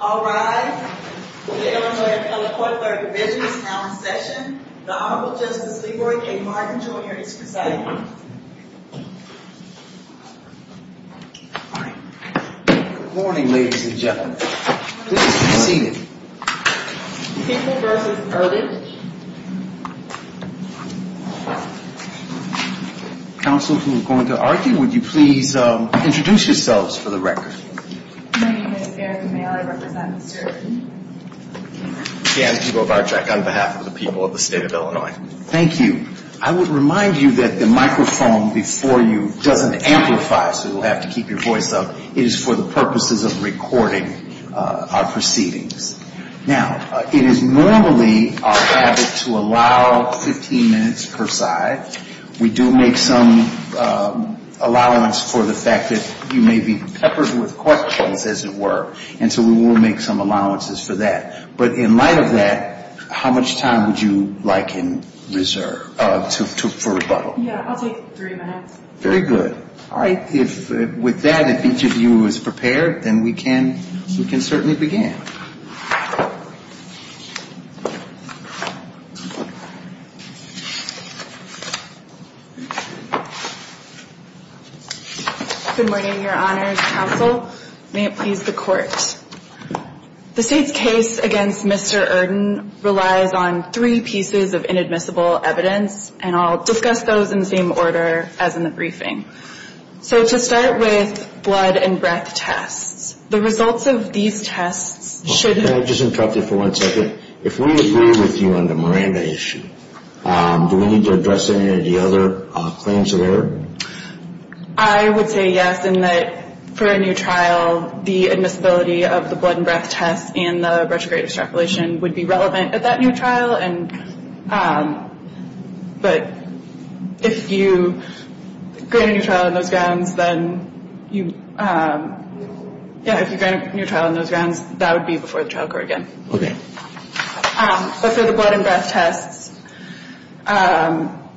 All rise. The Illinois Appellate Court third division is now in session. The Honorable Justice LeRoy K. Martin, Jr. is presiding. Good morning, ladies and gentlemen. Please be seated. People v. Erdene. Counsel, who is going to argue, would you please introduce yourselves for the record? My name is Erika Mayer. I represent Mr. Erdene. Jan Zubovarczyk on behalf of the people of the state of Illinois. Thank you. I would remind you that the microphone before you doesn't amplify, so you'll have to keep your voice up. It is for the purposes of recording our proceedings. Now, it is normally our habit to allow 15 minutes per side. We do make some allowance for the fact that you may be peppered with questions, as it were. And so we will make some allowances for that. But in light of that, how much time would you like in reserve for rebuttal? Yeah, I'll take three minutes. Very good. All right. If with that, if each of you is prepared, then we can certainly begin. Good morning, Your Honors. Counsel, may it please the Court. The State's case against Mr. Erdene relies on three pieces of inadmissible evidence, and I'll discuss those in the same order as in the briefing. So to start with blood and breath tests, the results of these tests should Can I just interrupt you for one second? If we agree with you on the Miranda issue, do we need to address any of the other claims of error? I would say yes, in that for a new trial, the admissibility of the blood and breath tests and the retrograde extrapolation would be relevant at that new trial. But if you grant a new trial on those grounds, then you, yeah, if you grant a new trial on those grounds, that would be before the trial court again. Okay. But for the blood and breath tests,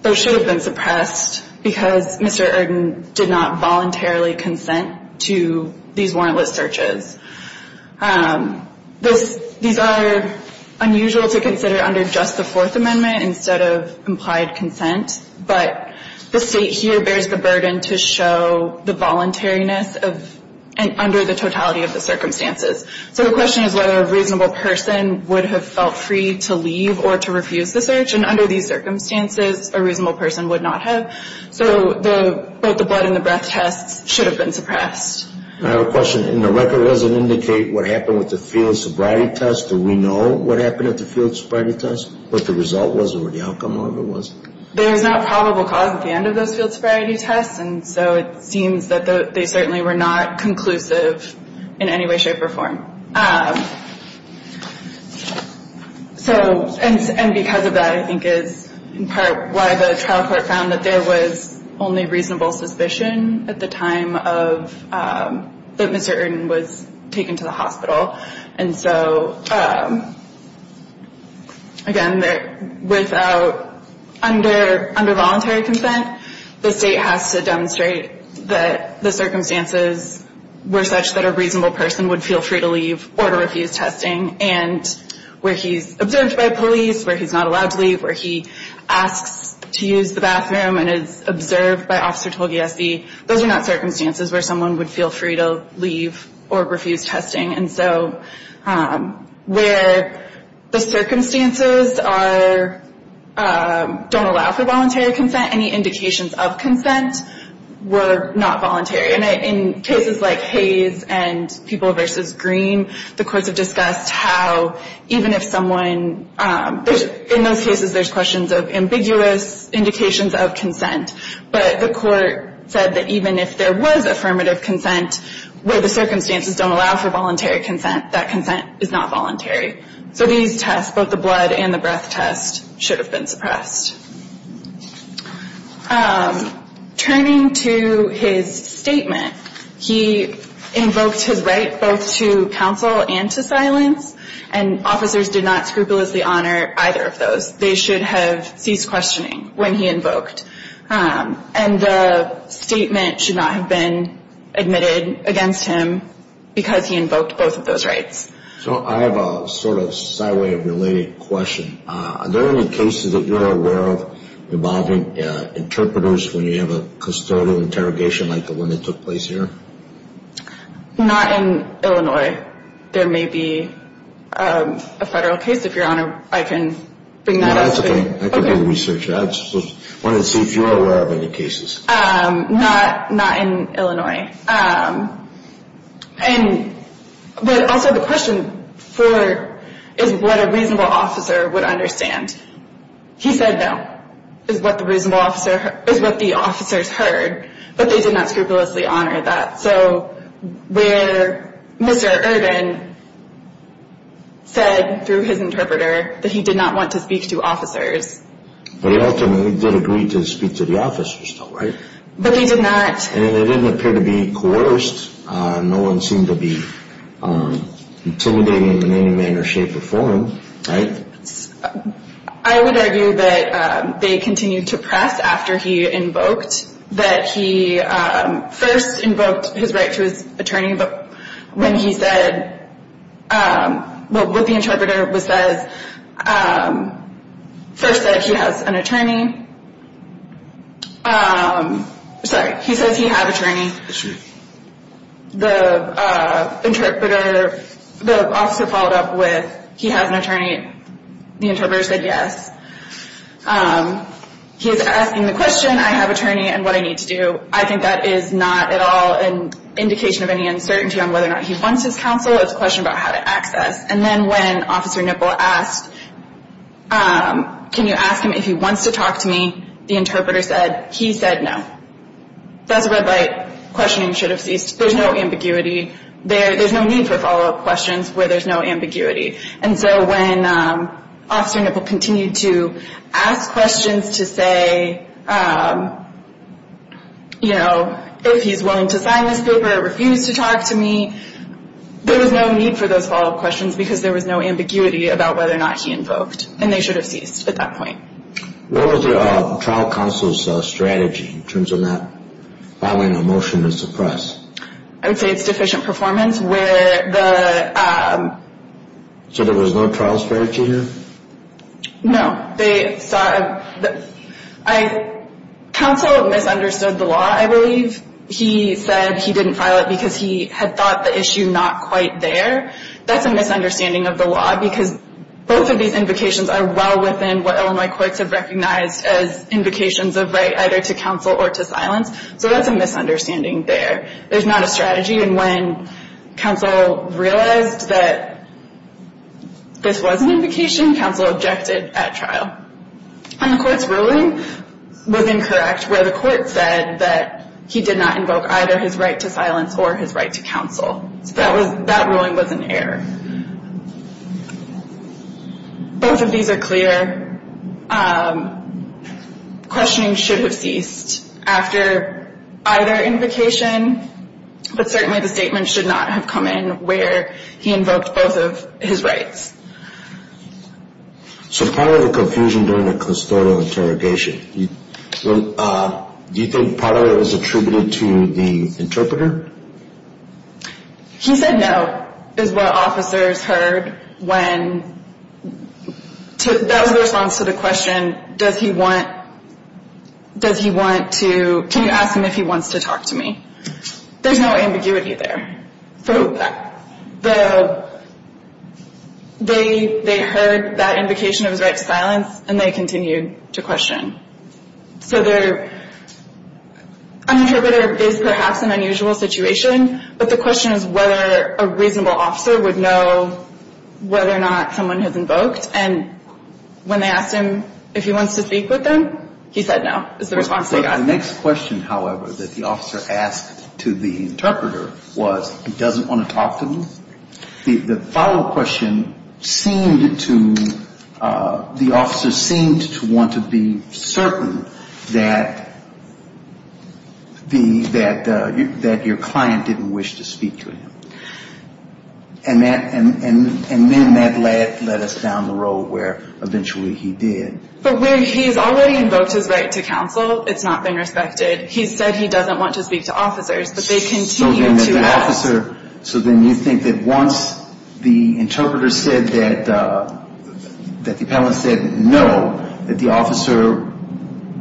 those should have been suppressed because Mr. Erdene did not voluntarily consent to these warrantless searches. These are unusual to consider under just the Fourth Amendment instead of implied consent, but the State here bears the burden to show the voluntariness under the totality of the circumstances. So the question is whether a reasonable person would have felt free to leave or to refuse the search, and under these circumstances, a reasonable person would not have. So both the blood and the breath tests should have been suppressed. I have a question. In the record, does it indicate what happened with the field sobriety test? Do we know what happened at the field sobriety test, what the result was, or what the outcome of it was? There is not probable cause at the end of those field sobriety tests, and so it seems that they certainly were not conclusive in any way, shape, or form. And because of that, I think, is in part why the trial court found that there was only reasonable suspicion at the time that Mr. Erdene was taken to the hospital. And so, again, without under voluntary consent, the State has to demonstrate that the circumstances were such that a reasonable person would feel free to leave or to refuse testing, and where he's observed by police, where he's not allowed to leave, where he asks to use the bathroom and is observed by Officer Tolgese, those are not circumstances where someone would feel free to leave or refuse testing. And so where the circumstances don't allow for voluntary consent, any indications of consent were not voluntary. And in cases like Hayes and People v. Green, the courts have discussed how even if someone, in those cases there's questions of ambiguous indications of consent, but the court said that even if there was affirmative consent, where the circumstances don't allow for voluntary consent, that consent is not voluntary. So these tests, both the blood and the breath test, should have been suppressed. Turning to his statement, he invoked his right both to counsel and to silence, and officers did not scrupulously honor either of those. They should have ceased questioning when he invoked. And the statement should not have been admitted against him because he invoked both of those rights. So I have a sort of sideway related question. Are there any cases that you're aware of involving interpreters when you have a custodial interrogation like the one that took place here? Not in Illinois. There may be a federal case, if Your Honor, I can bring that up. That's okay. I could be a researcher. I just wanted to see if you're aware of any cases. Not in Illinois. But also the question is what a reasonable officer would understand. He said no is what the officers heard, but they did not scrupulously honor that. So where Mr. Ervin said through his interpreter that he did not want to speak to officers. But he ultimately did agree to speak to the officers though, right? But he did not. And they didn't appear to be coerced. No one seemed to be intimidating in any manner, shape, or form, right? I would argue that they continued to press after he invoked that he first invoked his right to his attorney. But when he said what the interpreter says, first said he has an attorney. Sorry, he says he has an attorney. The interpreter, the officer followed up with he has an attorney. The interpreter said yes. He's asking the question, I have an attorney and what I need to do. I think that is not at all an indication of any uncertainty on whether or not he wants his counsel. It's a question about how to access. And then when Officer Nipple asked can you ask him if he wants to talk to me, the interpreter said he said no. That's a red light. Questioning should have ceased. There's no ambiguity. There's no need for follow-up questions where there's no ambiguity. And so when Officer Nipple continued to ask questions to say, you know, if he's willing to sign this paper or refuse to talk to me, there was no need for those follow-up questions because there was no ambiguity about whether or not he invoked. And they should have ceased at that point. What was the trial counsel's strategy in terms of not filing a motion to suppress? I would say it's deficient performance. So there was no trial strategy here? No. Counsel misunderstood the law, I believe. He said he didn't file it because he had thought the issue not quite there. That's a misunderstanding of the law because both of these invocations are well within what Illinois courts have recognized as invocations of right either to counsel or to silence. So that's a misunderstanding there. There's not a strategy. And when counsel realized that this was an invocation, counsel objected at trial. And the court's ruling was incorrect where the court said that he did not invoke either his right to silence or his right to counsel. So that ruling was an error. Both of these are clear. Questioning should have ceased after either invocation. But certainly the statement should not have come in where he invoked both of his rights. So part of the confusion during the custodial interrogation, do you think part of it was attributed to the interpreter? He said no is what officers heard when, that was the response to the question, does he want to, can you ask him if he wants to talk to me? There's no ambiguity there. They heard that invocation of his right to silence and they continued to question. So there, an interpreter is perhaps an unusual situation. But the question is whether a reasonable officer would know whether or not someone has invoked. And when they asked him if he wants to speak with them, he said no is the response they got. The next question, however, that the officer asked to the interpreter was he doesn't want to talk to me? The follow-up question seemed to, the officer seemed to want to be certain that the, that your client didn't wish to speak to him. And then that led us down the road where eventually he did. But where he's already invoked his right to counsel, it's not been respected. He said he doesn't want to speak to officers, but they continue to ask. So then you think that once the interpreter said that, that the appellant said no, that the officer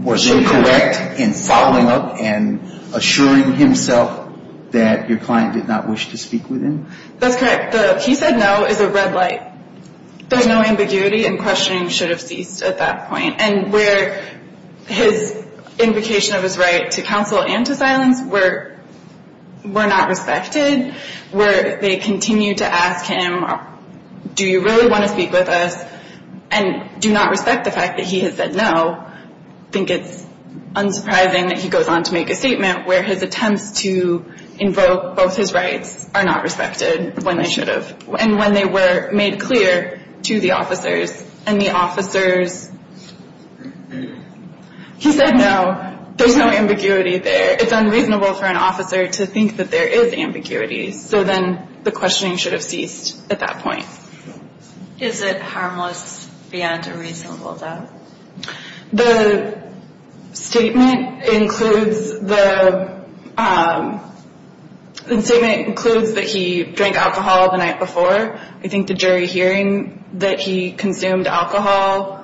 was incorrect in following up and assuring himself that your client did not wish to speak with him? That's correct. The he said no is a red light. There's no ambiguity and questioning should have ceased at that point. And where his invocation of his right to counsel and to silence were not respected, where they continue to ask him do you really want to speak with us and do not respect the fact that he has said no, I think it's unsurprising that he goes on to make a statement where his attempts to invoke both his rights are not respected when they should have. And when they were made clear to the officers and the officers, he said no. There's no ambiguity there. It's unreasonable for an officer to think that there is ambiguity. So then the questioning should have ceased at that point. Is it harmless beyond a reasonable doubt? The statement includes that he drank alcohol the night before. I think the jury hearing that he consumed alcohol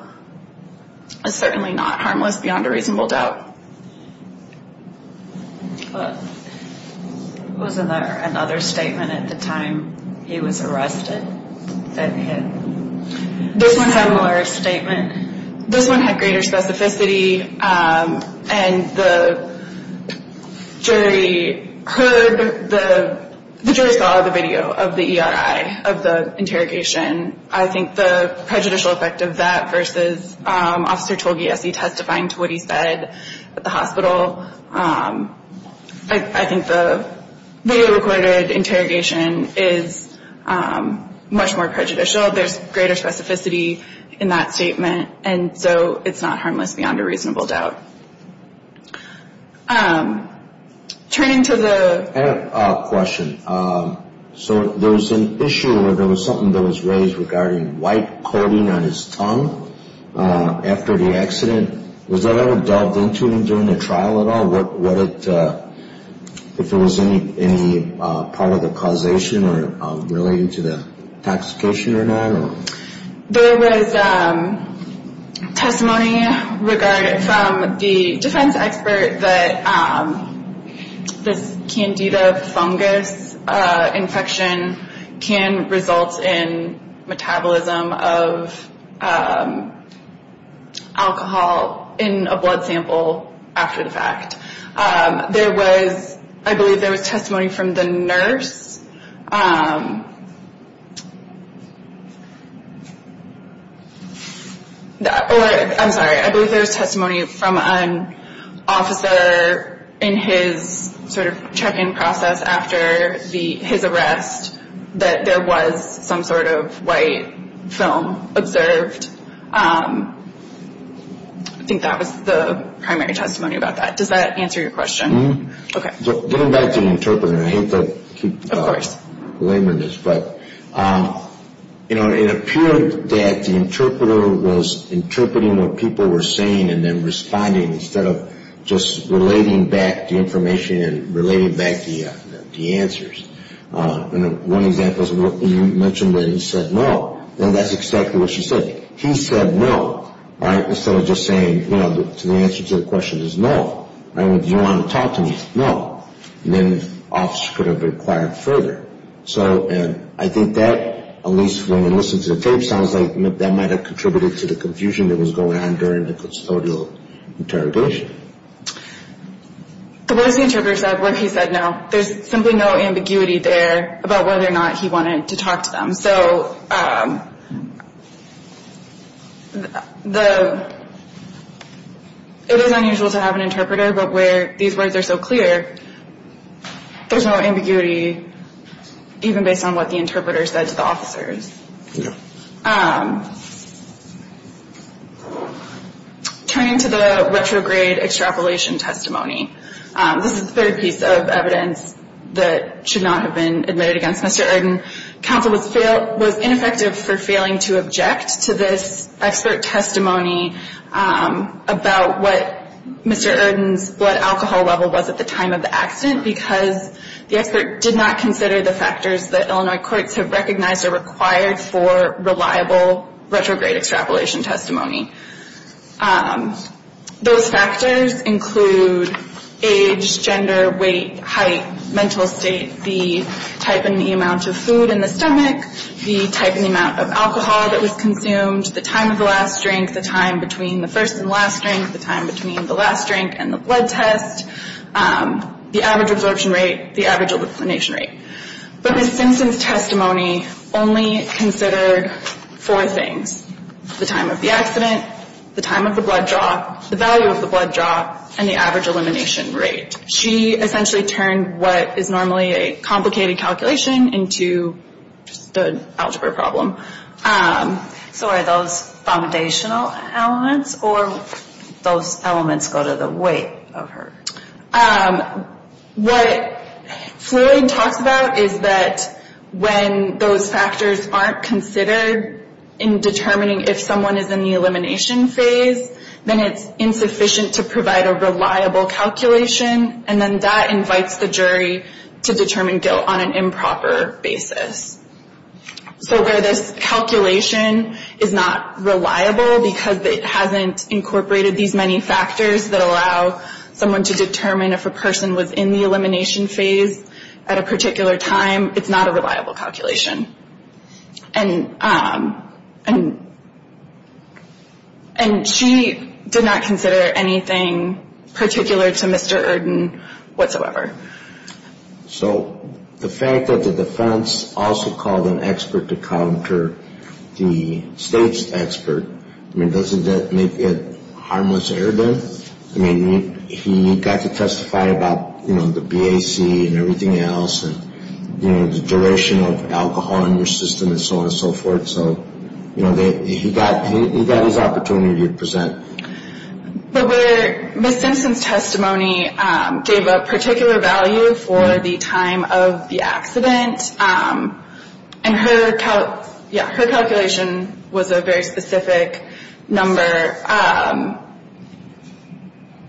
is certainly not harmless beyond a reasonable doubt. Wasn't there another statement at the time he was arrested that had a similar statement? This one had greater specificity. And the jury heard, the jury saw the video of the ERI, of the interrogation. I think the prejudicial effect of that versus Officer Togiesi testifying to what he said at the hospital, I think the video recorded interrogation is much more prejudicial. There's greater specificity in that statement. And so it's not harmless beyond a reasonable doubt. Turning to the question. So there was an issue where there was something that was raised regarding white coating on his tongue after the accident. Was that ever delved into during the trial at all? If there was any part of the causation related to the intoxication or not? There was testimony from the defense expert that this Candida fungus infection can result in metabolism of alcohol in a blood sample after the fact. There was, I believe there was testimony from the nurse. I'm sorry. I believe there was testimony from an officer in his sort of check-in process after his arrest that there was some sort of white film observed. I think that was the primary testimony about that. Does that answer your question? Mm-hmm. Okay. Getting back to the interpreter. I hate to keep laboring this. But, you know, it appeared that the interpreter was interpreting what people were saying and then responding instead of just relating back the information and relating back the answers. One example is when you mentioned that he said no, then that's exactly what she said. He said no, right, instead of just saying, you know, the answer to the question is no. I mean, do you want to talk to me? No. And then the officer could have required further. So I think that, at least when you listen to the tape, sounds like that might have contributed to the confusion that was going on during the custodial interrogation. So what does the interpreter say? What has he said now? There's simply no ambiguity there about whether or not he wanted to talk to them. So it is unusual to have an interpreter, but where these words are so clear, there's no ambiguity even based on what the interpreter said to the officers. Yeah. Turning to the retrograde extrapolation testimony. This is the third piece of evidence that should not have been admitted against Mr. Erdin. Counsel was ineffective for failing to object to this expert testimony about what Mr. Erdin's blood alcohol level was at the time of the accident because the expert did not consider the factors that Illinois courts have recognized are required for reliable retrograde extrapolation testimony. Those factors include age, gender, weight, height, mental state, the type and the amount of food in the stomach, the type and the amount of alcohol that was consumed, the time of the last drink, the time between the first and last drink, the time between the last drink and the blood test, the average absorption rate, the average elucidation rate. But his sentence testimony only considered four things, the time of the accident, the time of the blood draw, the value of the blood draw, and the average elimination rate. She essentially turned what is normally a complicated calculation into the algebra problem. So are those foundational elements or those elements go to the weight of her? What Floyd talks about is that when those factors aren't considered in determining if someone is in the elimination phase, then it's insufficient to provide a reliable calculation, and then that invites the jury to determine guilt on an improper basis. So where this calculation is not reliable because it hasn't incorporated these many factors that allow someone to determine if a person was in the elimination phase at a particular time, it's not a reliable calculation. And she did not consider anything particular to Mr. Erden whatsoever. So the fact that the defense also called an expert to counter the state's expert, I mean, doesn't that make it harmless to Erden? I mean, he got to testify about the BAC and everything else and the duration of alcohol in your system and so on and so forth. So he got his opportunity to present. But Ms. Simpson's testimony gave a particular value for the time of the accident, and her calculation was a very specific number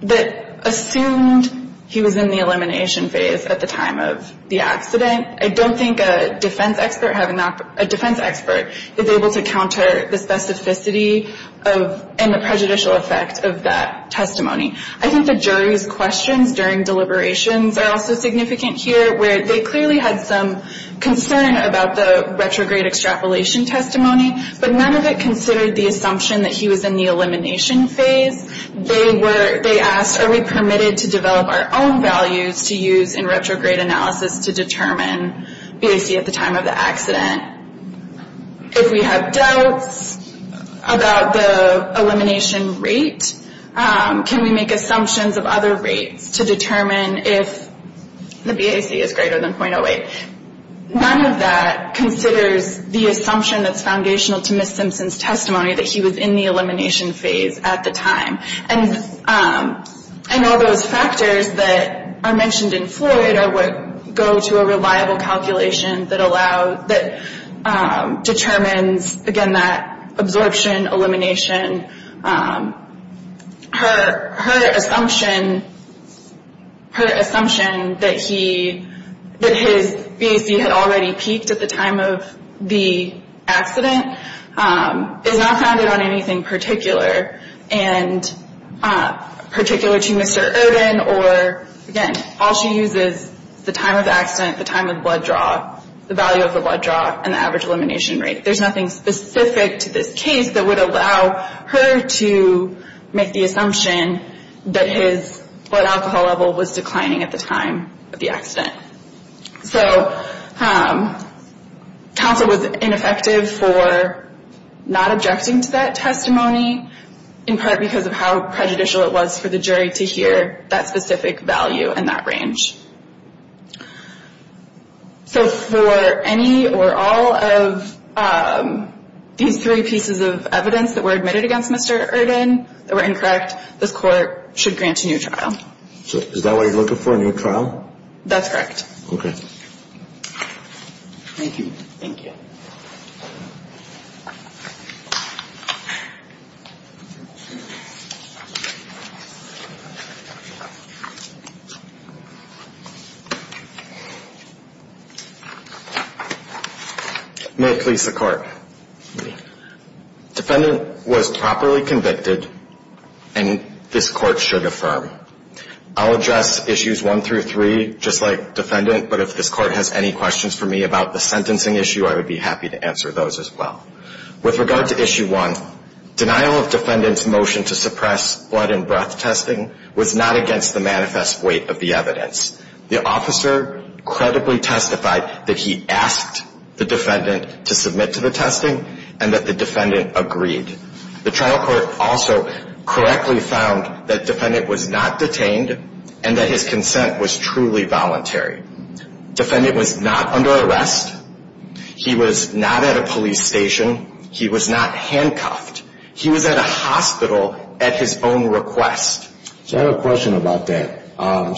that assumed he was in the elimination phase at the time of the accident. I don't think a defense expert is able to counter the specificity and the prejudicial effect of that testimony. I think the jury's questions during deliberations are also significant here where they clearly had some concern about the retrograde extrapolation testimony, but none of it considered the assumption that he was in the elimination phase. They asked, are we permitted to develop our own values to use in retrograde analysis to determine BAC at the time of the accident? If we have doubts about the elimination rate, can we make assumptions of other rates to determine if the BAC is greater than .08? None of that considers the assumption that's foundational to Ms. Simpson's testimony that he was in the elimination phase at the time. And all those factors that are mentioned in Floyd go to a reliable calculation that determines, again, that absorption elimination. Her assumption that his BAC had already peaked at the time of the accident is not founded on anything particular, and particular to Mr. Ervin or, again, all she uses is the time of accident, the time of blood draw, the value of the blood draw, and the average elimination rate. There's nothing specific to this case that would allow her to make the assumption that his blood alcohol level was declining at the time of the accident. So counsel was ineffective for not objecting to that testimony, in part because of how prejudicial it was for the jury to hear that specific value and that range. So for any or all of these three pieces of evidence that were admitted against Mr. Ervin that were incorrect, this court should grant a new trial. Is that what you're looking for, a new trial? That's correct. Okay. Thank you. Thank you. May it please the Court. Defendant was properly convicted, and this Court should affirm. I'll address Issues 1 through 3 just like Defendant, but if this Court has any questions for me about the sentencing issue, I would be happy to answer those as well. With regard to Issue 1, denial of Defendant's motion to suppress blood and breath testing was not against the manifest weight of the evidence. The officer credibly testified that he asked the Defendant to submit to the testing and that the Defendant agreed. The trial court also correctly found that Defendant was not detained and that his consent was truly voluntary. Defendant was not under arrest. He was not at a police station. He was not handcuffed. He was at a hospital at his own request. So I have a question about that.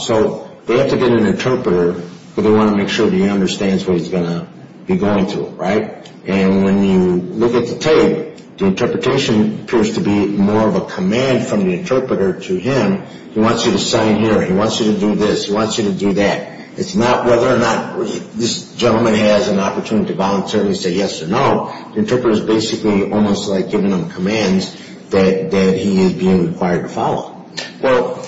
So they have to get an interpreter, but they want to make sure he understands what he's going to be going through, right? And when you look at the tape, the interpretation appears to be more of a command from the interpreter to him. He wants you to sign here. He wants you to do this. He wants you to do that. It's not whether or not this gentleman has an opportunity to voluntarily say yes or no. The interpreter is basically almost like giving him commands that he is being required to follow. Well,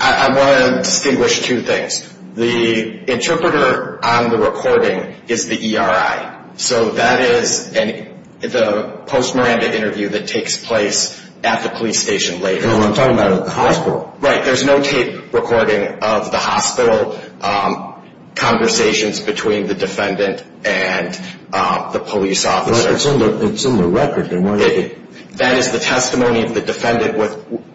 I want to distinguish two things. The interpreter on the recording is the ERI. So that is the post-Miranda interview that takes place at the police station later. No, I'm talking about at the hospital. Right. There's no tape recording of the hospital conversations between the Defendant and the police officer. It's in the record. That is the testimony of the Defendant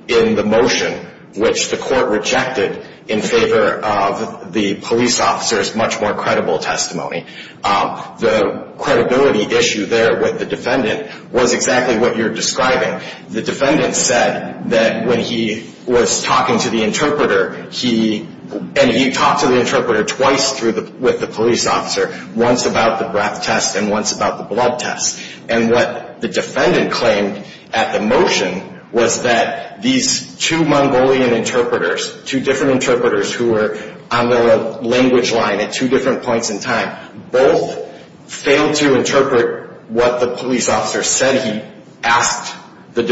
in the motion, which the court rejected in favor of the police officer's much more credible testimony. The credibility issue there with the Defendant was exactly what you're describing. The Defendant said that when he was talking to the interpreter, he talked to the interpreter twice with the police officer, once about the breath test and once about the blood test. And what the Defendant claimed at the motion was that these two Mongolian interpreters, two different interpreters who were on the language line at two different points in time, both failed to interpret what the police officer said he asked, what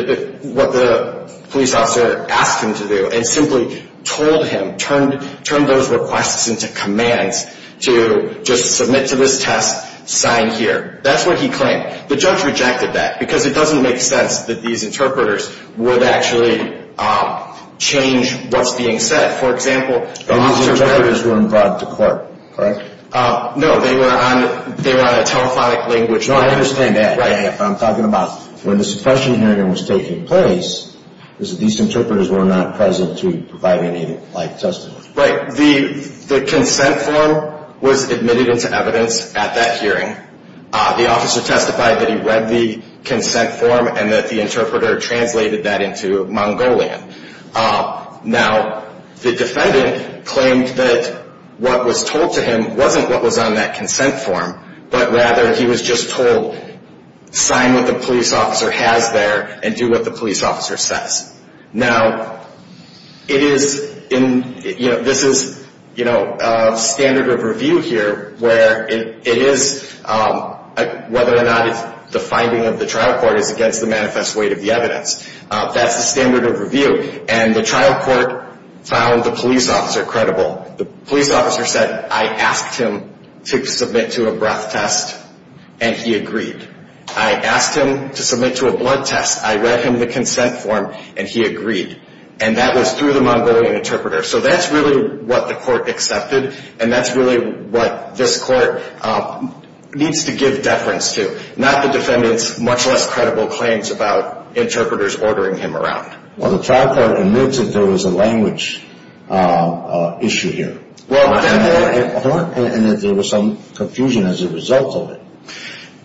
the police officer asked him to do, and simply told him, turned those requests into commands to just submit to this test, sign here. That's what he claimed. The judge rejected that because it doesn't make sense that these interpreters would actually change what's being said. For example, the officer… And these interpreters weren't brought to court, correct? No, they were on a telephonic language line. No, I understand that. Right. And if I'm talking about when the suppression hearing was taking place, it was that these interpreters were not present to provide any live testimony. Right. The consent form was admitted into evidence at that hearing. The officer testified that he read the consent form and that the interpreter translated that into Mongolian. Now, the Defendant claimed that what was told to him wasn't what was on that consent form, but rather he was just told, sign what the police officer has there and do what the police officer says. Now, this is standard of review here, where it is whether or not the finding of the trial court is against the manifest weight of the evidence. That's the standard of review. And the trial court found the police officer credible. The police officer said, I asked him to submit to a breath test, and he agreed. I asked him to submit to a blood test. I read him the consent form, and he agreed. And that was through the Mongolian interpreter. So that's really what the court accepted, and that's really what this court needs to give deference to, not the Defendant's much less credible claims about interpreters ordering him around. Well, the trial court admits that there was a language issue here. And that there was some confusion as a result of it.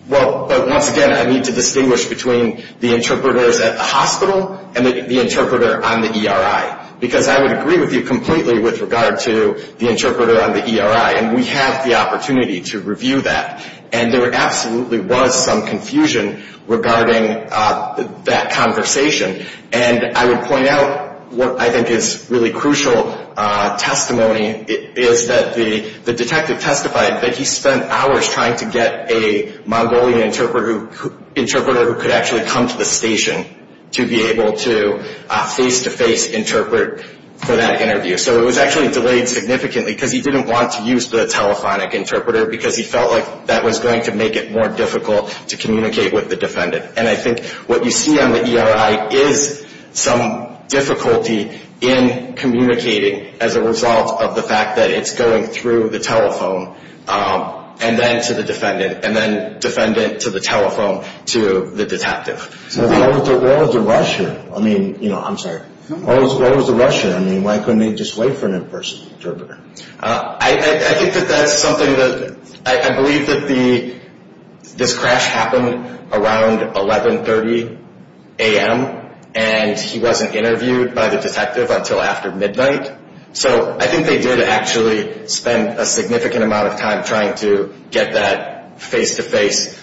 Well, once again, I need to distinguish between the interpreters at the hospital and the interpreter on the ERI, because I would agree with you completely with regard to the interpreter on the ERI, and we have the opportunity to review that. And there absolutely was some confusion regarding that conversation. And I would point out what I think is really crucial testimony is that the detective testified that he spent hours trying to get a Mongolian interpreter who could actually come to the station to be able to face-to-face interpret for that interview. So it was actually delayed significantly because he didn't want to use the telephonic interpreter because he felt like that was going to make it more difficult to communicate with the Defendant. And I think what you see on the ERI is some difficulty in communicating as a result of the fact that it's going through the telephone and then to the Defendant, and then Defendant to the telephone to the detective. So what was the rush here? I mean, you know, I'm sorry. What was the rush here? I mean, why couldn't they just wait for an in-person interpreter? I think that that's something that I believe that this crash happened around 1130 a.m. and he wasn't interviewed by the detective until after midnight. So I think they did actually spend a significant amount of time trying to get that face-to-face,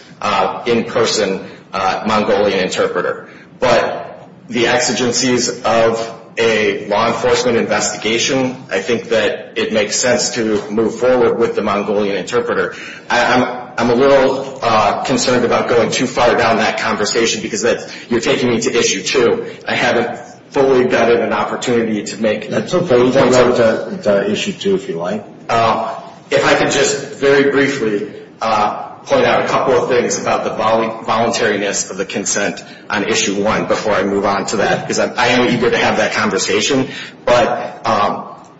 in-person Mongolian interpreter. But the exigencies of a law enforcement investigation, I think that it makes sense to move forward with the Mongolian interpreter. I'm a little concerned about going too far down that conversation because you're taking me to Issue 2. I haven't fully gotten an opportunity to make a consent. That's okay. You can go to Issue 2 if you like. If I could just very briefly point out a couple of things about the voluntariness of the consent on Issue 1 before I move on to that, because I am eager to have that conversation. But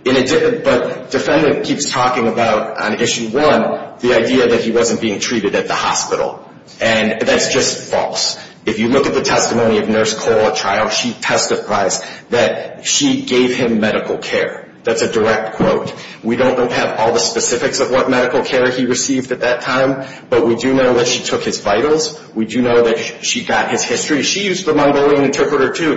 Defendant keeps talking about on Issue 1 the idea that he wasn't being treated at the hospital. And that's just false. If you look at the testimony of Nurse Cole at trial, she testifies that she gave him medical care. That's a direct quote. We don't have all the specifics of what medical care he received at that time, but we do know that she took his vitals. We do know that she got his history. She used the Mongolian interpreter, too,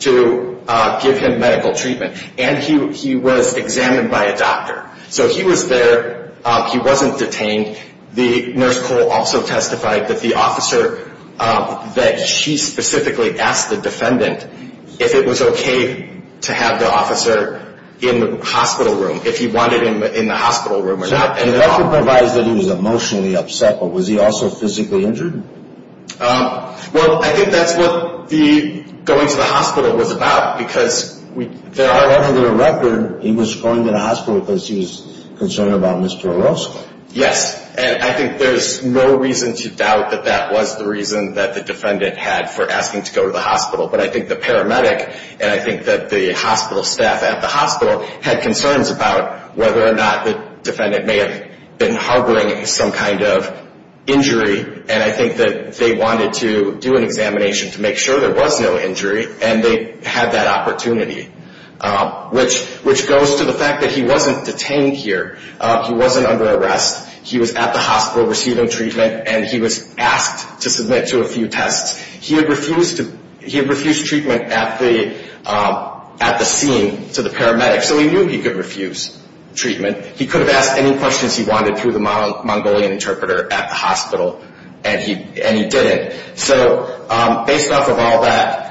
to give him medical treatment. And he was examined by a doctor. So he was there. He wasn't detained. The Nurse Cole also testified that the officer that she specifically asked the defendant if it was okay to have the officer in the hospital room, if he wanted him in the hospital room or not. And it also provides that he was emotionally upset, but was he also physically injured? Well, I think that's what the going to the hospital was about, because there are other records. He was going to the hospital because he was concerned about Mr. Orozco. Yes, and I think there's no reason to doubt that that was the reason that the defendant had for asking to go to the hospital. But I think the paramedic and I think that the hospital staff at the hospital had concerns about whether or not the defendant may have been harboring some kind of injury, and I think that they wanted to do an examination to make sure there was no injury, and they had that opportunity, which goes to the fact that he wasn't detained here. He wasn't under arrest. He was at the hospital receiving treatment, and he was asked to submit to a few tests. He had refused treatment at the scene to the paramedic, so he knew he could refuse treatment. He could have asked any questions he wanted through the Mongolian interpreter at the hospital, and he didn't. So based off of all that,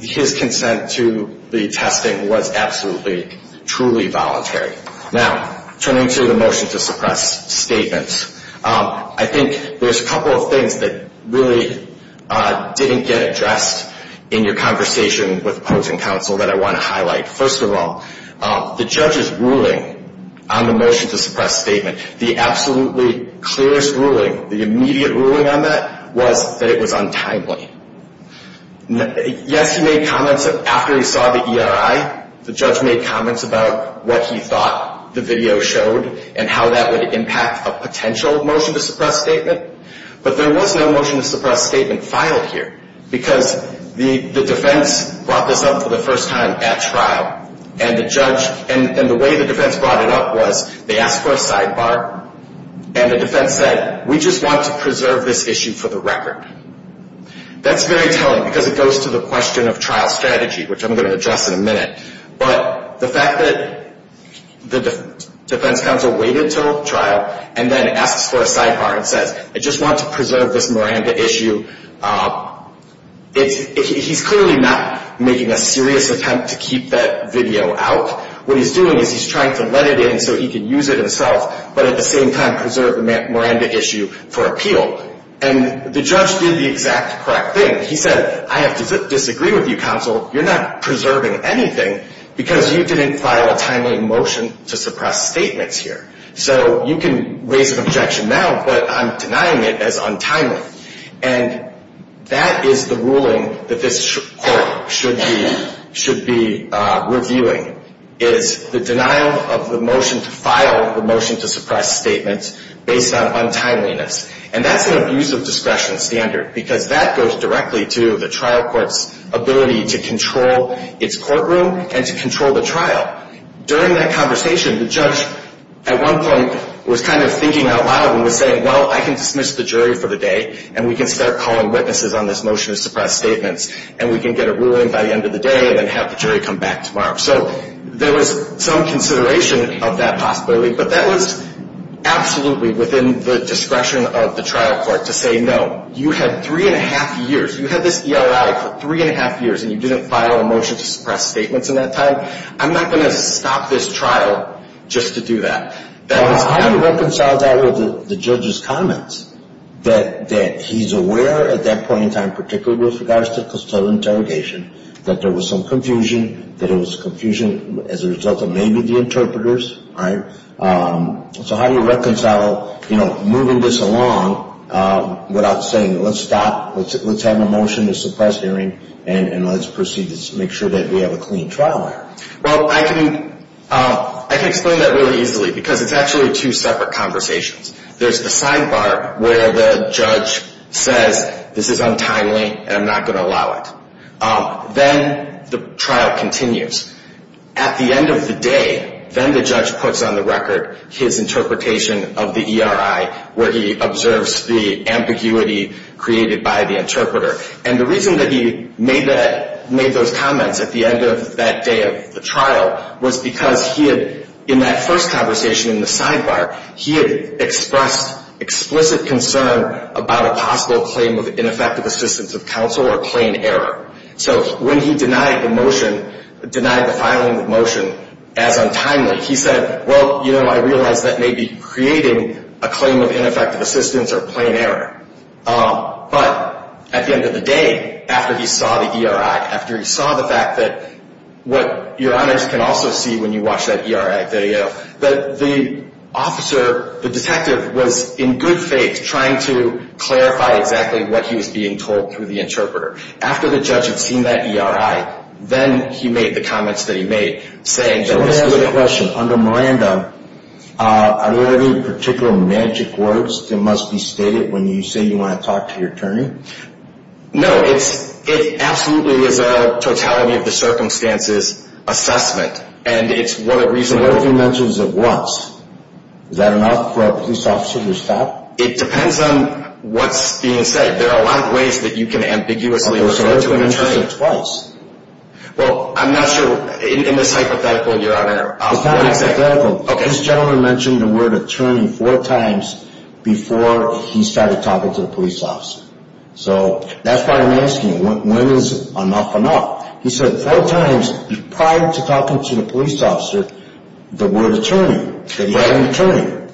his consent to the testing was absolutely, truly voluntary. Now, turning to the motion to suppress statements, I think there's a couple of things that really didn't get addressed in your conversation with folks in counsel that I want to highlight. First of all, the judge's ruling on the motion to suppress statement, the absolutely clearest ruling, the immediate ruling on that was that it was untimely. Yes, he made comments after he saw the ERI. The judge made comments about what he thought the video showed and how that would impact a potential motion to suppress statement, but there was no motion to suppress statement filed here because the defense brought this up for the first time at trial, and the way the defense brought it up was they asked for a sidebar, and the defense said, we just want to preserve this issue for the record. That's very telling because it goes to the question of trial strategy, which I'm going to address in a minute, but the fact that the defense counsel waited until trial and then asks for a sidebar and says, I just want to preserve this Miranda issue, he's clearly not making a serious attempt to keep that video out. What he's doing is he's trying to let it in so he can use it himself, but at the same time preserve the Miranda issue for appeal, and the judge did the exact correct thing. He said, I have to disagree with you, counsel. You're not preserving anything because you didn't file a timely motion to suppress statements here, so you can raise an objection now, but I'm denying it as untimely, and that is the ruling that this court should be reviewing is the denial of the motion to file the motion to suppress statements based on untimeliness, and that's an abuse of discretion standard because that goes directly to the trial court's ability to control its courtroom and to control the trial. During that conversation, the judge at one point was kind of thinking out loud and was saying, well, I can dismiss the jury for the day, and we can start calling witnesses on this motion to suppress statements, and we can get a ruling by the end of the day and then have the jury come back tomorrow. So there was some consideration of that possibility, but that was absolutely within the discretion of the trial court to say no. You had three-and-a-half years. You had this ERI for three-and-a-half years, and you didn't file a motion to suppress statements in that time. I'm not going to stop this trial just to do that. That was kind of... Well, I would reconcile that with the judge's comments that he's aware at that point in time, particularly with regards to custodial interrogation, that there was some confusion, that it was confusion as a result of maybe the interpreters. So how do you reconcile moving this along without saying let's stop, let's have a motion to suppress hearing, and let's proceed to make sure that we have a clean trial error? Well, I can explain that really easily because it's actually two separate conversations. There's the sidebar where the judge says this is untimely and I'm not going to allow it. Then the trial continues. At the end of the day, then the judge puts on the record his interpretation of the ERI, where he observes the ambiguity created by the interpreter. And the reason that he made those comments at the end of that day of the trial was because he had, in that first conversation in the sidebar, he had expressed explicit concern about a possible claim of ineffective assistance of counsel or plain error. So when he denied the motion, denied the filing of the motion as untimely, he said, well, you know, I realize that may be creating a claim of ineffective assistance or plain error. But at the end of the day, after he saw the ERI, after he saw the fact that what your honors can also see when you watch that ERI video, that the officer, the detective, was in good faith trying to clarify exactly what he was being told through the interpreter. After the judge had seen that ERI, then he made the comments that he made, saying that this was a- Let me ask you a question. Under Miranda, are there any particular magic words that must be stated when you say you want to talk to your attorney? No, it absolutely is a totality of the circumstances assessment. And it's what a reasonable- So what if he mentions it once? Is that enough for a police officer to stop? It depends on what's being said. There are a lot of ways that you can ambiguously refer to an attorney. So what if he mentions it twice? Well, I'm not sure. In this hypothetical, you're on a- It's not a hypothetical. Okay. This gentleman mentioned the word attorney four times before he started talking to the police officer. So that's what I'm asking. When is enough enough? He said four times prior to talking to the police officer, the word attorney. The word attorney.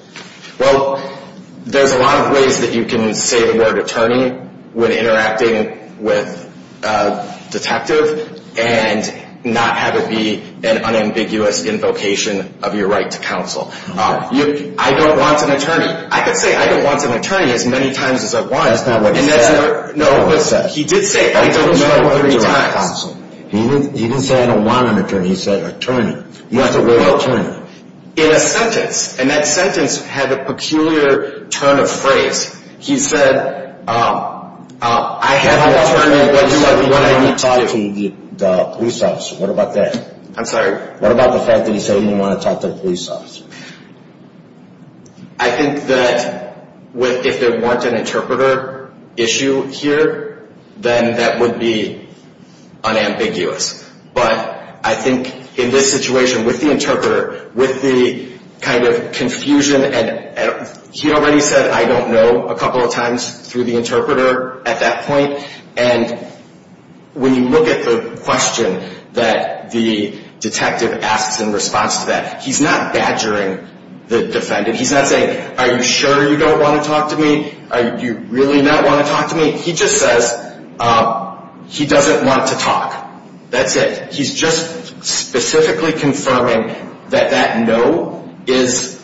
Well, there's a lot of ways that you can say the word attorney when interacting with a detective, and not have it be an unambiguous invocation of your right to counsel. I don't want an attorney. I could say I don't want an attorney as many times as I want. That's not what he said. No, but he did say I don't want an attorney three times. He didn't say I don't want an attorney. He said attorney. That's the word attorney. In a sentence, and that sentence had a peculiar turn of phrase. He said, I have an attorney, but he said he didn't want to talk to the police officer. What about that? I'm sorry? What about the fact that he said he didn't want to talk to the police officer? I think that if there weren't an interpreter issue here, then that would be unambiguous. But I think in this situation with the interpreter, with the kind of confusion, and he already said I don't know a couple of times through the interpreter at that point, and when you look at the question that the detective asks in response to that, he's not badgering the defendant. He's not saying, are you sure you don't want to talk to me? Do you really not want to talk to me? He just says he doesn't want to talk. That's it. He's just specifically confirming that that no is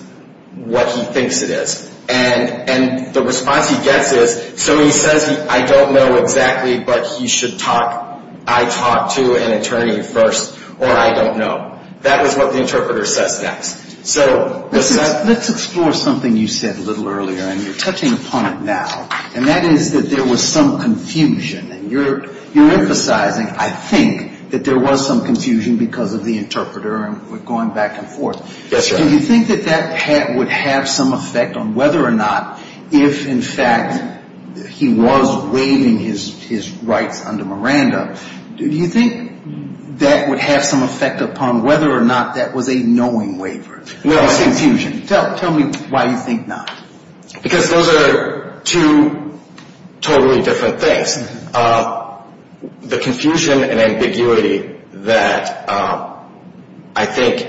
what he thinks it is. And the response he gets is, so he says, I don't know exactly, but he should talk. I talk to an attorney first, or I don't know. That is what the interpreter says next. So the sentence. Let's explore something you said a little earlier, and you're touching upon it now, and that is that there was some confusion, and you're emphasizing, I think, that there was some confusion because of the interpreter and going back and forth. Yes, sir. Do you think that that would have some effect on whether or not if, in fact, he was waiving his rights under Miranda, do you think that would have some effect upon whether or not that was a knowing waiver? Tell me why you think not. Because those are two totally different things. The confusion and ambiguity that I think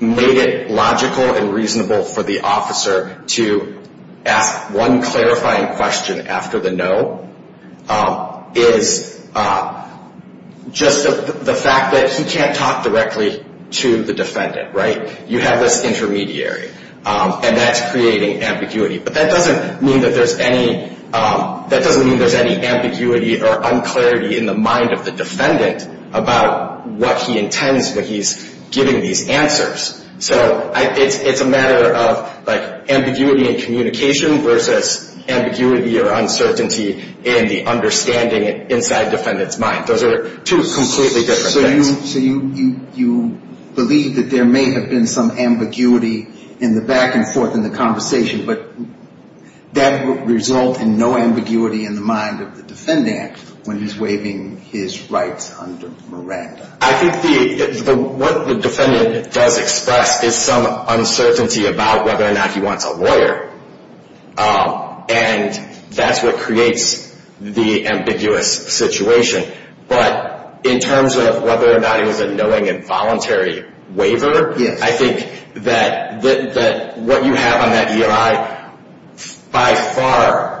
made it logical and reasonable for the officer to ask one clarifying question after the no is just the fact that he can't talk directly to the defendant. You have this intermediary. And that's creating ambiguity. But that doesn't mean that there's any ambiguity or unclarity in the mind of the defendant about what he intends when he's giving these answers. So it's a matter of ambiguity in communication versus ambiguity or uncertainty in the understanding inside the defendant's mind. Those are two completely different things. So you believe that there may have been some ambiguity in the back and forth in the conversation, but that would result in no ambiguity in the mind of the defendant when he's waiving his rights under Miranda. I think what the defendant does express is some uncertainty about whether or not he wants a lawyer. And that's what creates the ambiguous situation. But in terms of whether or not he was a knowing and voluntary waiver, I think that what you have on that EI by far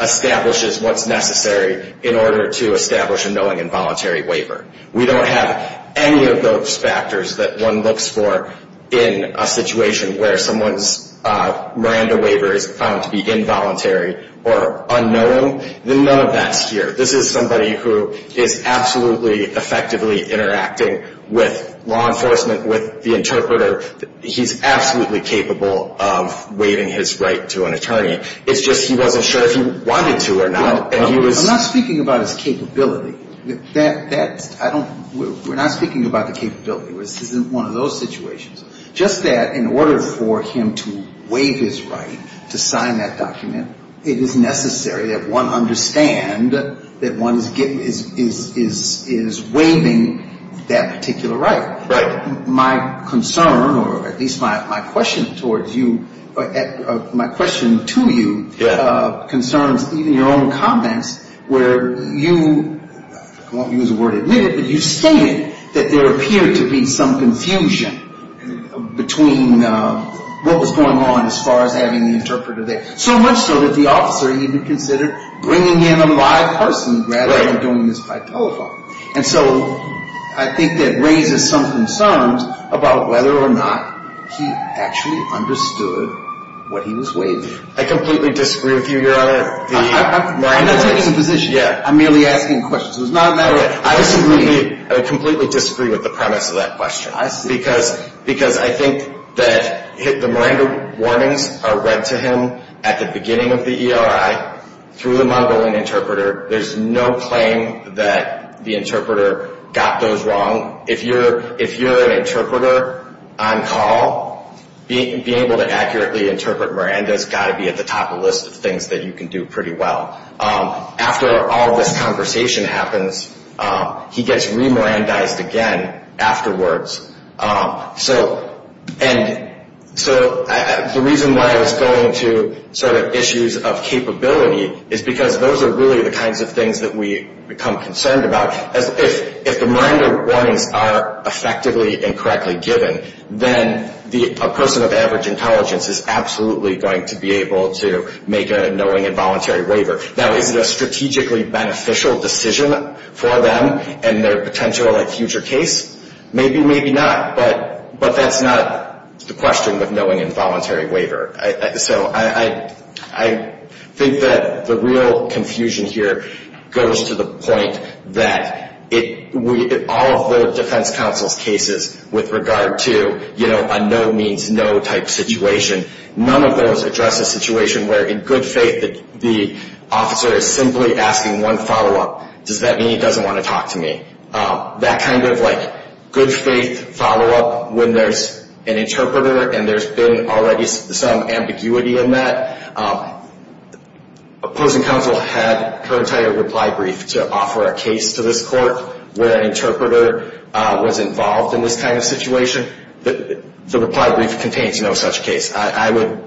establishes what's necessary in order to establish a knowing and voluntary waiver. We don't have any of those factors that one looks for in a situation where someone's Miranda waiver is found to be involuntary or unknowing. None of that's here. This is somebody who is absolutely effectively interacting with law enforcement, with the interpreter. He's absolutely capable of waiving his right to an attorney. It's just he wasn't sure if he wanted to or not. I'm not speaking about his capability. We're not speaking about the capability. This isn't one of those situations. Just that in order for him to waive his right to sign that document, it is necessary that one understand that one is waiving that particular right. My concern, or at least my question towards you, my question to you, concerns even your own comments where you, I won't use the word admit it, but you stated that there appeared to be some confusion between what was going on as far as having the interpreter there. So much so that the officer even considered bringing in a live person rather than doing this by telephone. And so I think that raises some concerns about whether or not he actually understood what he was waiving. I completely disagree with you, Your Honor. I'm not taking a position. I'm merely asking questions. I completely disagree with the premise of that question. I see. I think that the Miranda warnings are read to him at the beginning of the ERI through the mongolian interpreter. There's no claim that the interpreter got those wrong. If you're an interpreter on call, being able to accurately interpret Miranda's got to be at the top of the list of things that you can do pretty well. After all this conversation happens, he gets re-Mirandaized again afterwards. So the reason why I was going to sort of issues of capability is because those are really the kinds of things that we become concerned about. If the Miranda warnings are effectively and correctly given, then a person of average intelligence is absolutely going to be able to make a knowing and voluntary waiver. Now, is it a strategically beneficial decision for them in their potential future case? Maybe, maybe not. But that's not the question of knowing and voluntary waiver. So I think that the real confusion here goes to the point that all of the defense counsel's cases with regard to, you know, a no means no type situation, none of those address a situation where in good faith the officer is simply asking one follow-up, does that mean he doesn't want to talk to me? That kind of like good faith follow-up when there's an interpreter and there's been already some ambiguity in that. Opposing counsel had her entire reply brief to offer a case to this court where an interpreter was involved in this kind of situation. The reply brief contains no such case. I would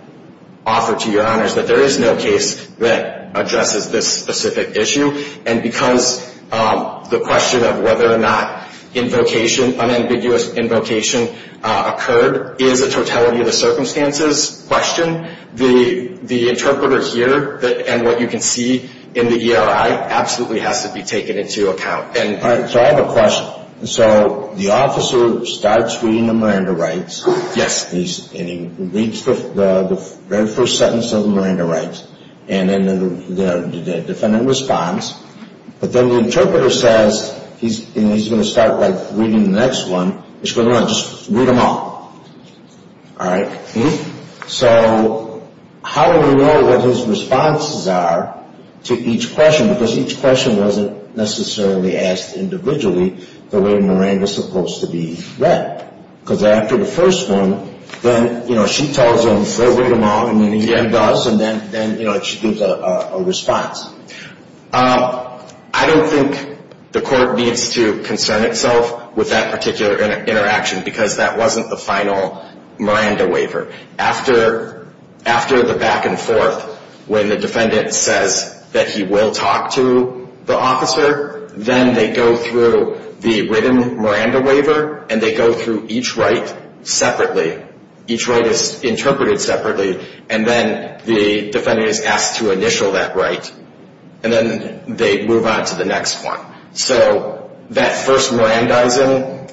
offer to your honors that there is no case that addresses this specific issue. And because the question of whether or not invocation, unambiguous invocation occurred, is a totality of the circumstances question. The interpreter here and what you can see in the ERI absolutely has to be taken into account. So I have a question. So the officer starts reading the Miranda rights. Yes. And he reads the very first sentence of the Miranda rights. And then the defendant responds. But then the interpreter says, and he's going to start by reading the next one, just read them all. All right. So how do we know what his responses are to each question? Because each question wasn't necessarily asked individually the way Miranda is supposed to be read. Because after the first one, then, you know, she tells him, read them all, and then he does, and then, you know, she gives a response. I don't think the court needs to concern itself with that particular interaction because that wasn't the final Miranda waiver. After the back and forth when the defendant says that he will talk to the officer, then they go through the written Miranda waiver, and they go through each right separately. Each right is interpreted separately, and then the defendant is asked to initial that right, and then they move on to the next one. So that first Mirandizing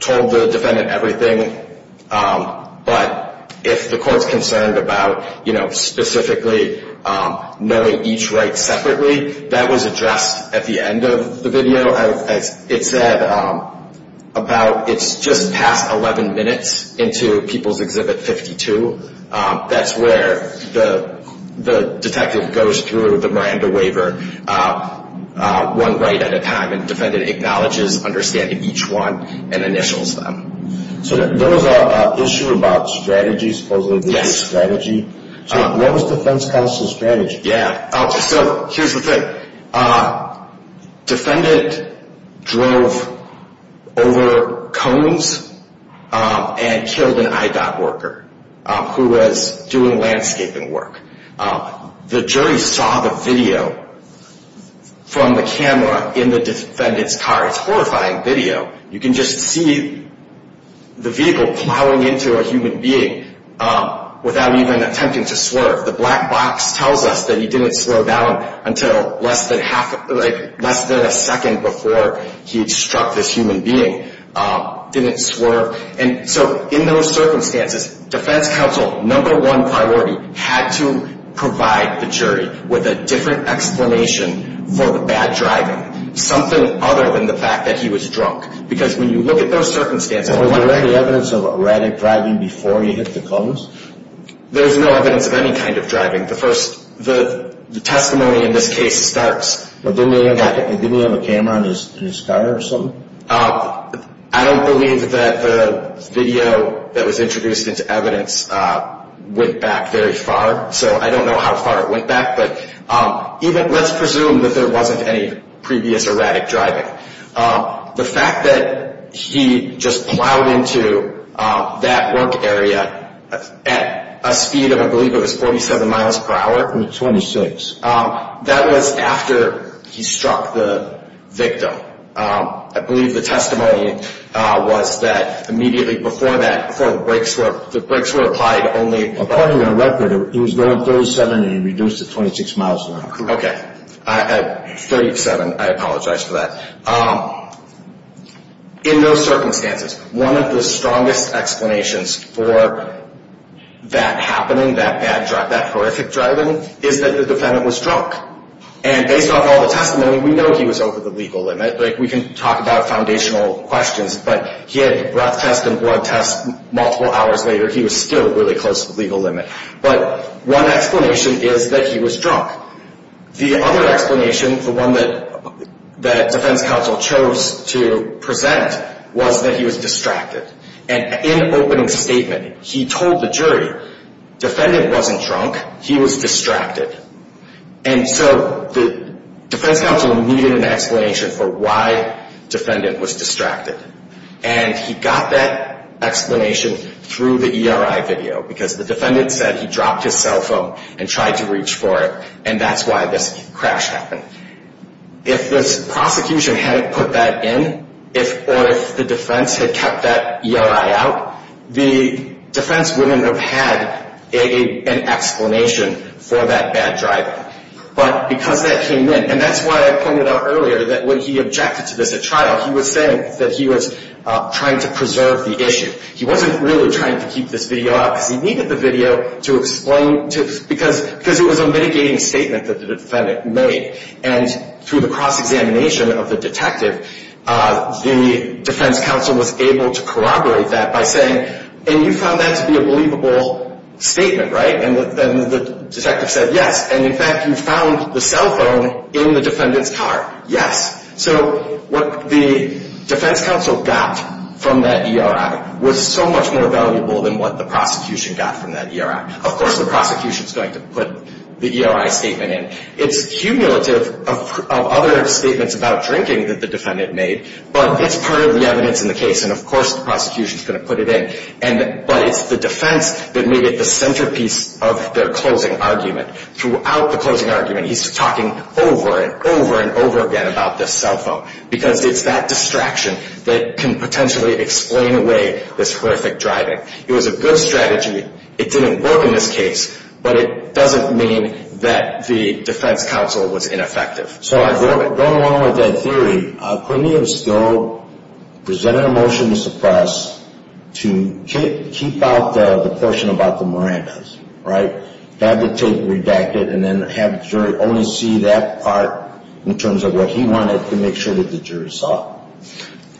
told the defendant everything, but if the court's concerned about, you know, specifically knowing each right separately, that was addressed at the end of the video. As it said, it's just past 11 minutes into People's Exhibit 52. That's where the detective goes through the Miranda waiver one right at a time, and the defendant acknowledges understanding each one and initials them. So there was an issue about strategy, supposedly strategic strategy. So what was defense counsel's strategy? So here's the thing. Defendant drove over cones and killed an IDOT worker who was doing landscaping work. The jury saw the video from the camera in the defendant's car. It's horrifying video. You can just see the vehicle plowing into a human being without even attempting to swerve. The black box tells us that he didn't slow down until less than a second before he struck this human being. Didn't swerve. And so in those circumstances, defense counsel, number one priority, had to provide the jury with a different explanation for the bad driving, something other than the fact that he was drunk, because when you look at those circumstances... Was there any evidence of erratic driving before he hit the cones? There's no evidence of any kind of driving. The testimony in this case starts... Didn't he have a camera in his car or something? I don't believe that the video that was introduced into evidence went back very far, so I don't know how far it went back. But let's presume that there wasn't any previous erratic driving. The fact that he just plowed into that work area at a speed of, I believe it was 47 miles per hour... It was 26. That was after he struck the victim. I believe the testimony was that immediately before that, before the brakes were applied only... According to the record, he was going 37 and he reduced to 26 miles per hour. Okay. 37. I apologize for that. In those circumstances, one of the strongest explanations for that happening, that horrific driving, is that the defendant was drunk. And based on all the testimony, we know he was over the legal limit. We can talk about foundational questions, but he had a breath test and blood test multiple hours later. He was still really close to the legal limit. But one explanation is that he was drunk. The other explanation, the one that defense counsel chose to present, was that he was distracted. And in opening statement, he told the jury, defendant wasn't drunk, he was distracted. And so the defense counsel needed an explanation for why defendant was distracted. And he got that explanation through the ERI video. Because the defendant said he dropped his cell phone and tried to reach for it. And that's why this crash happened. If this prosecution hadn't put that in, or if the defense had kept that ERI out, the defense wouldn't have had an explanation for that bad driving. But because that came in, and that's why I pointed out earlier that when he objected to this at trial, he was saying that he was trying to preserve the issue. He wasn't really trying to keep this video out, because he needed the video to explain, because it was a mitigating statement that the defendant made. And through the cross-examination of the detective, the defense counsel was able to corroborate that by saying, and you found that to be a believable statement, right? And the detective said, yes. And in fact, you found the cell phone in the defendant's car. Yes. So what the defense counsel got from that ERI was so much more valuable than what the prosecution got from that ERI. Of course, the prosecution is going to put the ERI statement in. It's cumulative of other statements about drinking that the defendant made, but it's part of the evidence in the case, and of course the prosecution is going to put it in. But it's the defense that made it the centerpiece of their closing argument. Throughout the closing argument, he's talking over and over and over again about this cell phone, because it's that distraction that can potentially explain away this horrific driving. It was a good strategy. It didn't work in this case, but it doesn't mean that the defense counsel was ineffective. So going along with that theory, Quinnian still presented a motion to suppress to keep out the portion about the Miranda's, right? Have the tape redacted and then have the jury only see that part in terms of what he wanted to make sure that the jury saw.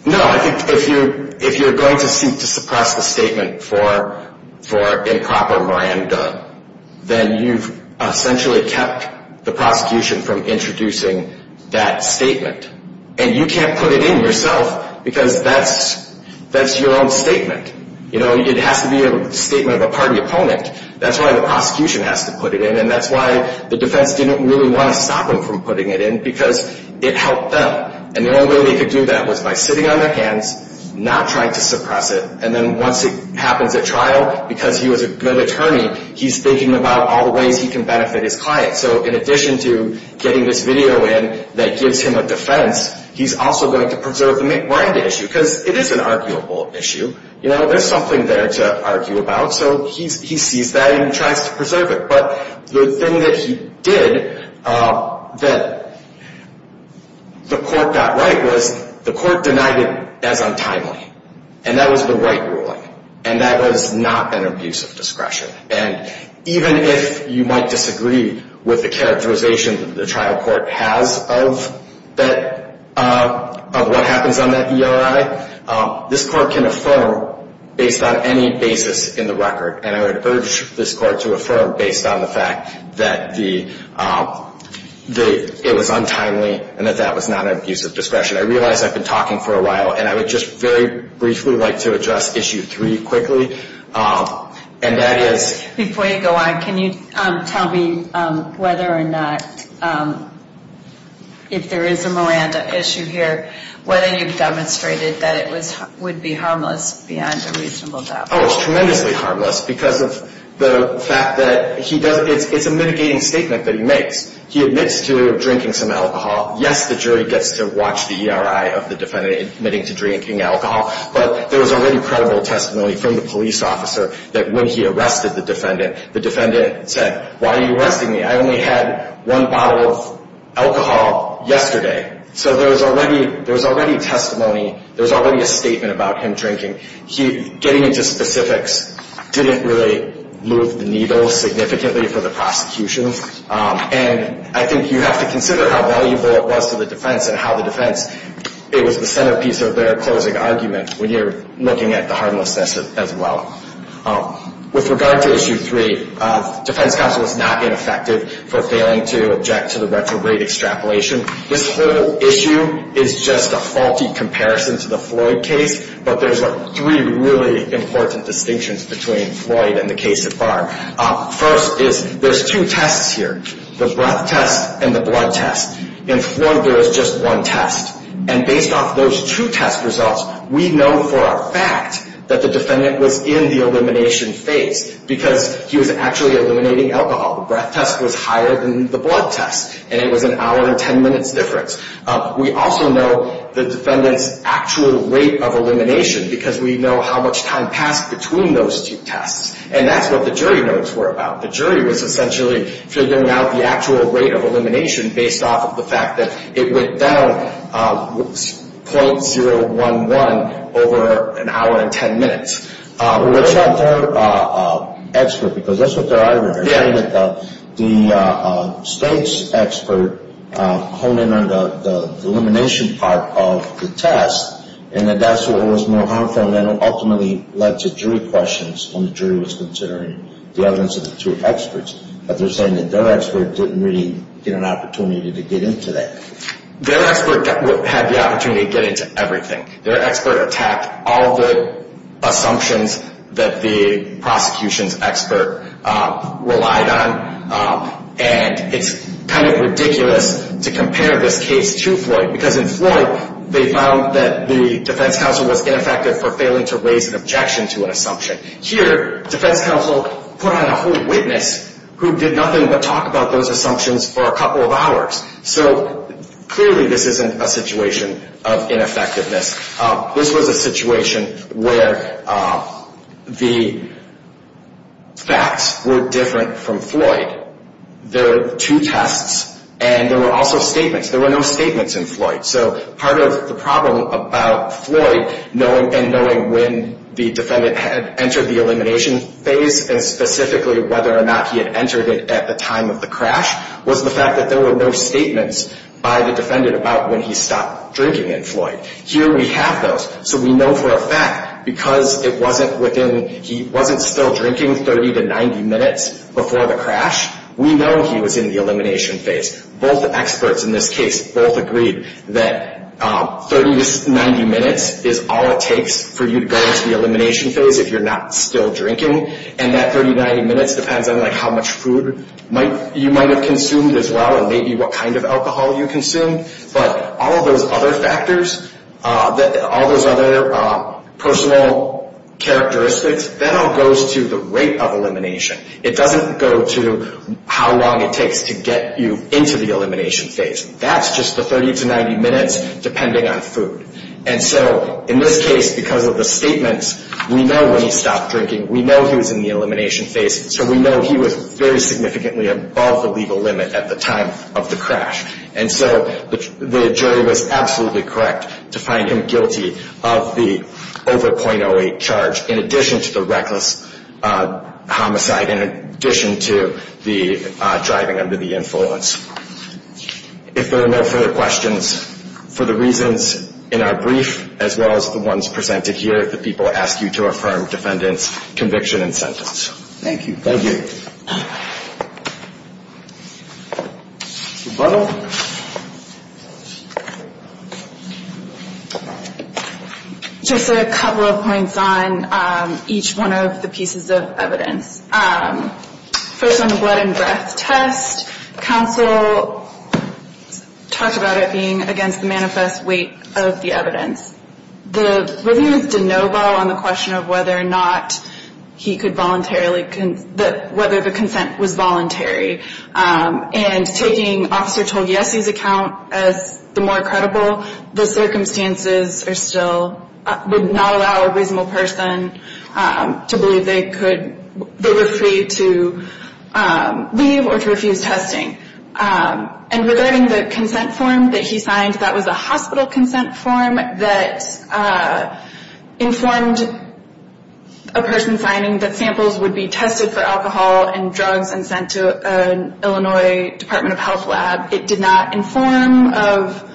No, I think if you're going to seek to suppress the statement for improper Miranda, then you've essentially kept the prosecution from introducing that statement. And you can't put it in yourself, because that's your own statement. It has to be a statement of a party opponent. That's why the prosecution has to put it in, and that's why the defense didn't really want to stop him from putting it in, because it helped them. And the only way they could do that was by sitting on their hands, not trying to suppress it, and then once it happens at trial, because he was a good attorney, he's thinking about all the ways he can benefit his client. So in addition to getting this video in that gives him a defense, he's also going to preserve the Miranda issue, because it is an arguable issue. There's something there to argue about, so he sees that and he tries to preserve it. But the thing that he did that the court got right was the court denied it as untimely, and that was the right ruling, and that was not an abuse of discretion. And even if you might disagree with the characterization that the trial court has of what happens on that ERI, this court can affirm based on any basis in the record, and I would urge this court to affirm based on the fact that it was untimely and that that was not an abuse of discretion. I realize I've been talking for a while, and I would just very briefly like to address issue three quickly, and that is... Before you go on, can you tell me whether or not, if there is a Miranda issue here, whether you've demonstrated that it would be harmless beyond a reasonable doubt? Oh, it's tremendously harmless because of the fact that it's a mitigating statement that he makes. He admits to drinking some alcohol. Yes, the jury gets to watch the ERI of the defendant admitting to drinking alcohol, but there was already credible testimony from the police officer that when he arrested the defendant, the defendant said, why are you arresting me? I only had one bottle of alcohol yesterday. So there was already testimony. There was already a statement about him drinking. Getting into specifics didn't really move the needle significantly for the prosecution, and I think you have to consider how valuable it was to the defense and how the defense, it was the centerpiece of their closing argument when you're looking at the harmlessness as well. With regard to issue three, the defense counsel is not ineffective for failing to object to the retrograde extrapolation. This whole issue is just a faulty comparison to the Floyd case, but there's three really important distinctions between Floyd and the case at bar. First is there's two tests here, the breath test and the blood test. In Floyd, there is just one test, and based off those two test results, we know for a fact that the defendant was in the elimination phase because he was actually eliminating alcohol. The breath test was higher than the blood test, and it was an hour and ten minutes difference. We also know the defendant's actual rate of elimination because we know how much time passed between those two tests, and that's what the jury notes were about. The jury was essentially figuring out the actual rate of elimination based off of the fact that it went down .011 over an hour and ten minutes. Well, that's not their expert because that's what they're arguing. They're saying that the state's expert honed in on the elimination part of the test and that that's what was more harmful and that ultimately led to jury questions when the jury was considering the evidence of the two experts, but they're saying that their expert didn't really get an opportunity to get into that. Their expert had the opportunity to get into everything. Their expert attacked all the assumptions that the prosecution's expert relied on, and it's kind of ridiculous to compare this case to Floyd because in Floyd they found that the defense counsel was ineffective for failing to raise an objection to an assumption. Here, defense counsel put on a whole witness who did nothing but talk about those assumptions for a couple of hours. So clearly this isn't a situation of ineffectiveness. This was a situation where the facts were different from Floyd. There are two tests and there were also statements. There were no statements in Floyd, so part of the problem about Floyd and knowing when the defendant had entered the elimination phase and specifically whether or not he had entered it at the time of the crash was the fact that there were no statements by the defendant about when he stopped drinking in Floyd. Here we have those, so we know for a fact because it wasn't within he wasn't still drinking 30 to 90 minutes before the crash. We know he was in the elimination phase. Both experts in this case both agreed that 30 to 90 minutes is all it takes for you to go into the elimination phase if you're not still drinking, and that 30 to 90 minutes depends on how much food you might have consumed as well and maybe what kind of alcohol you consumed. But all of those other factors, all those other personal characteristics, that all goes to the rate of elimination. It doesn't go to how long it takes to get you into the elimination phase. That's just the 30 to 90 minutes depending on food. And so in this case, because of the statements, we know when he stopped drinking. We know he was in the elimination phase, so we know he was very significantly above the legal limit at the time of the crash. And so the jury was absolutely correct to find him guilty of the over .08 charge in addition to the reckless homicide, in addition to the driving under the influence. If there are no further questions for the reasons in our brief as well as the ones presented here, the people ask you to affirm defendant's conviction and sentence. Thank you. Thank you. Ms. Butler? Just a couple of points on each one of the pieces of evidence. First on the blood and breath test, counsel talked about it being against the manifest weight of the evidence. The review was de novo on the question of whether or not he could voluntarily, whether the consent was voluntary. And taking Officer Togiesi's account as the more credible, the circumstances are still, would not allow a reasonable person to believe they could, they were free to leave or to refuse testing. And regarding the consent form that he signed, that was a hospital consent form that informed a person signing that samples would be tested for alcohol and drugs and sent to an Illinois Department of Health lab. It did not inform of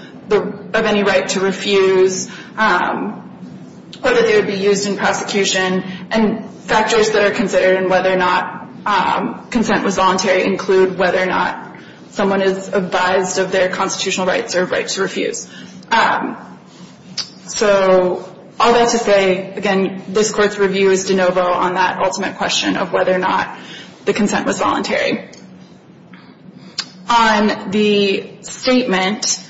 any right to refuse or that they would be used in prosecution. And factors that are considered in whether or not consent was voluntary include whether or not someone is advised of their constitutional rights or right to refuse. So all that to say, again, this Court's review is de novo on that ultimate question of whether or not the consent was voluntary. On the statement,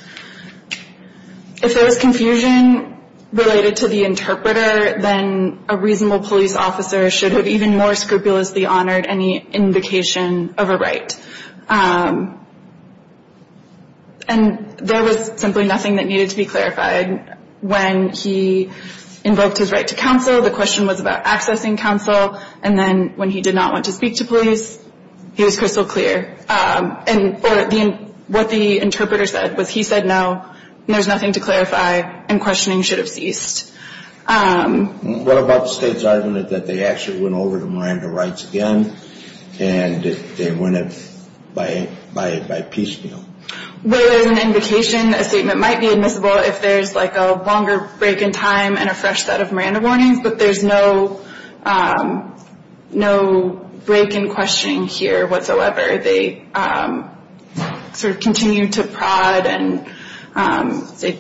if there was confusion related to the interpreter, then a reasonable police officer should have even more scrupulously honored any indication of a right. And there was simply nothing that needed to be clarified. When he invoked his right to counsel, the question was about accessing counsel. And then when he did not want to speak to police, he was crystal clear. And what the interpreter said was he said no, there's nothing to clarify, and questioning should have ceased. What about the State's argument that they actually went over the Miranda rights again, and they went at it by piecemeal? Well, there's an indication a statement might be admissible if there's like a longer break in time and a fresh set of Miranda warnings, but there's no break in questioning here whatsoever. They sort of continue to prod and say,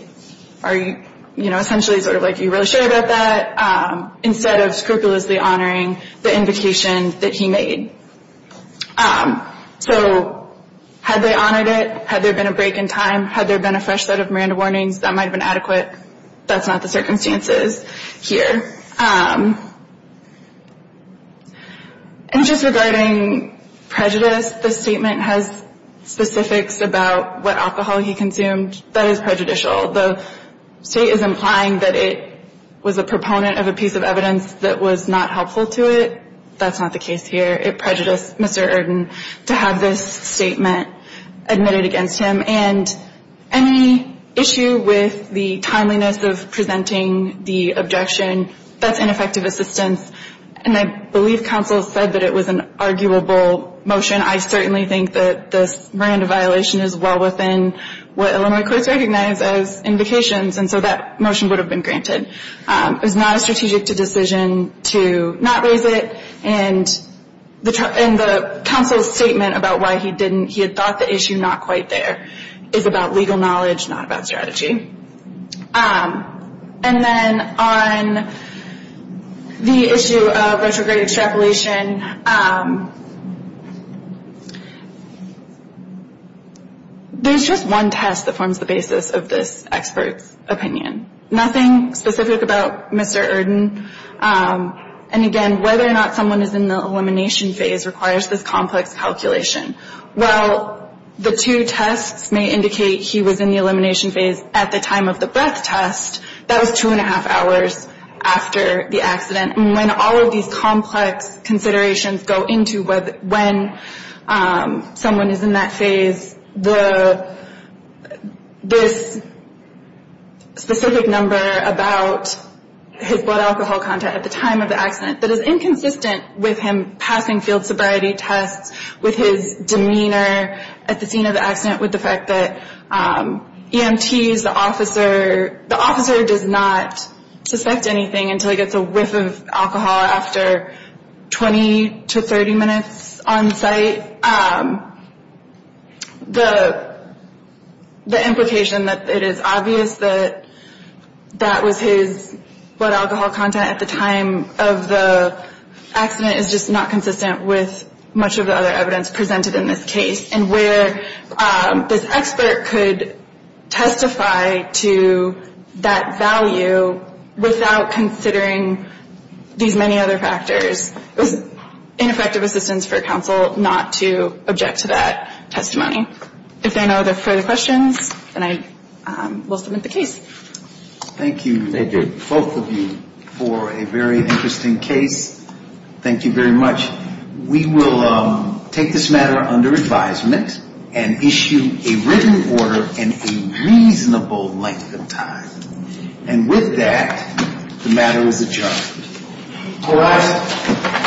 are you, you know, essentially sort of like, are you really sure about that, instead of scrupulously honoring the indication that he made. So had they honored it, had there been a break in time, had there been a fresh set of Miranda warnings, that might have been adequate. That's not the circumstances here. And just regarding prejudice, the statement has specifics about what alcohol he consumed. That is prejudicial. The State is implying that it was a proponent of a piece of evidence that was not helpful to it. That's not the case here. It prejudiced Mr. Erden to have this statement admitted against him. And any issue with the timeliness of presenting the objection, that's ineffective assistance. And I believe counsel said that it was an arguable motion. I certainly think that this Miranda violation is well within what Illinois courts recognize as invocations, and so that motion would have been granted. It was not a strategic decision to not raise it. And the counsel's statement about why he didn't, he had thought the issue not quite there, is about legal knowledge, not about strategy. And then on the issue of retrograde extrapolation, there's just one test that forms the basis of this expert's opinion. Nothing specific about Mr. Erden. And, again, whether or not someone is in the elimination phase requires this complex calculation. While the two tests may indicate he was in the elimination phase at the time of the breath test, that was two and a half hours after the accident. And when all of these complex considerations go into when someone is in that phase, this specific number about his blood alcohol content at the time of the accident that is inconsistent with him passing field sobriety tests, with his demeanor at the scene of the accident, with the fact that EMTs, the officer, the officer does not suspect anything until he gets a whiff of alcohol after 20 to 30 minutes on site. The implication that it is obvious that that was his blood alcohol content at the time of the accident is just not consistent with much of the other evidence presented in this case. And where this expert could testify to that value without considering these many other factors is ineffective assistance for counsel not to object to that testimony. If there are no further questions, then I will submit the case. Thank you, both of you, for a very interesting case. Thank you very much. We will take this matter under advisement and issue a written order in a reasonable length of time. And with that, the matter is adjourned. All rise.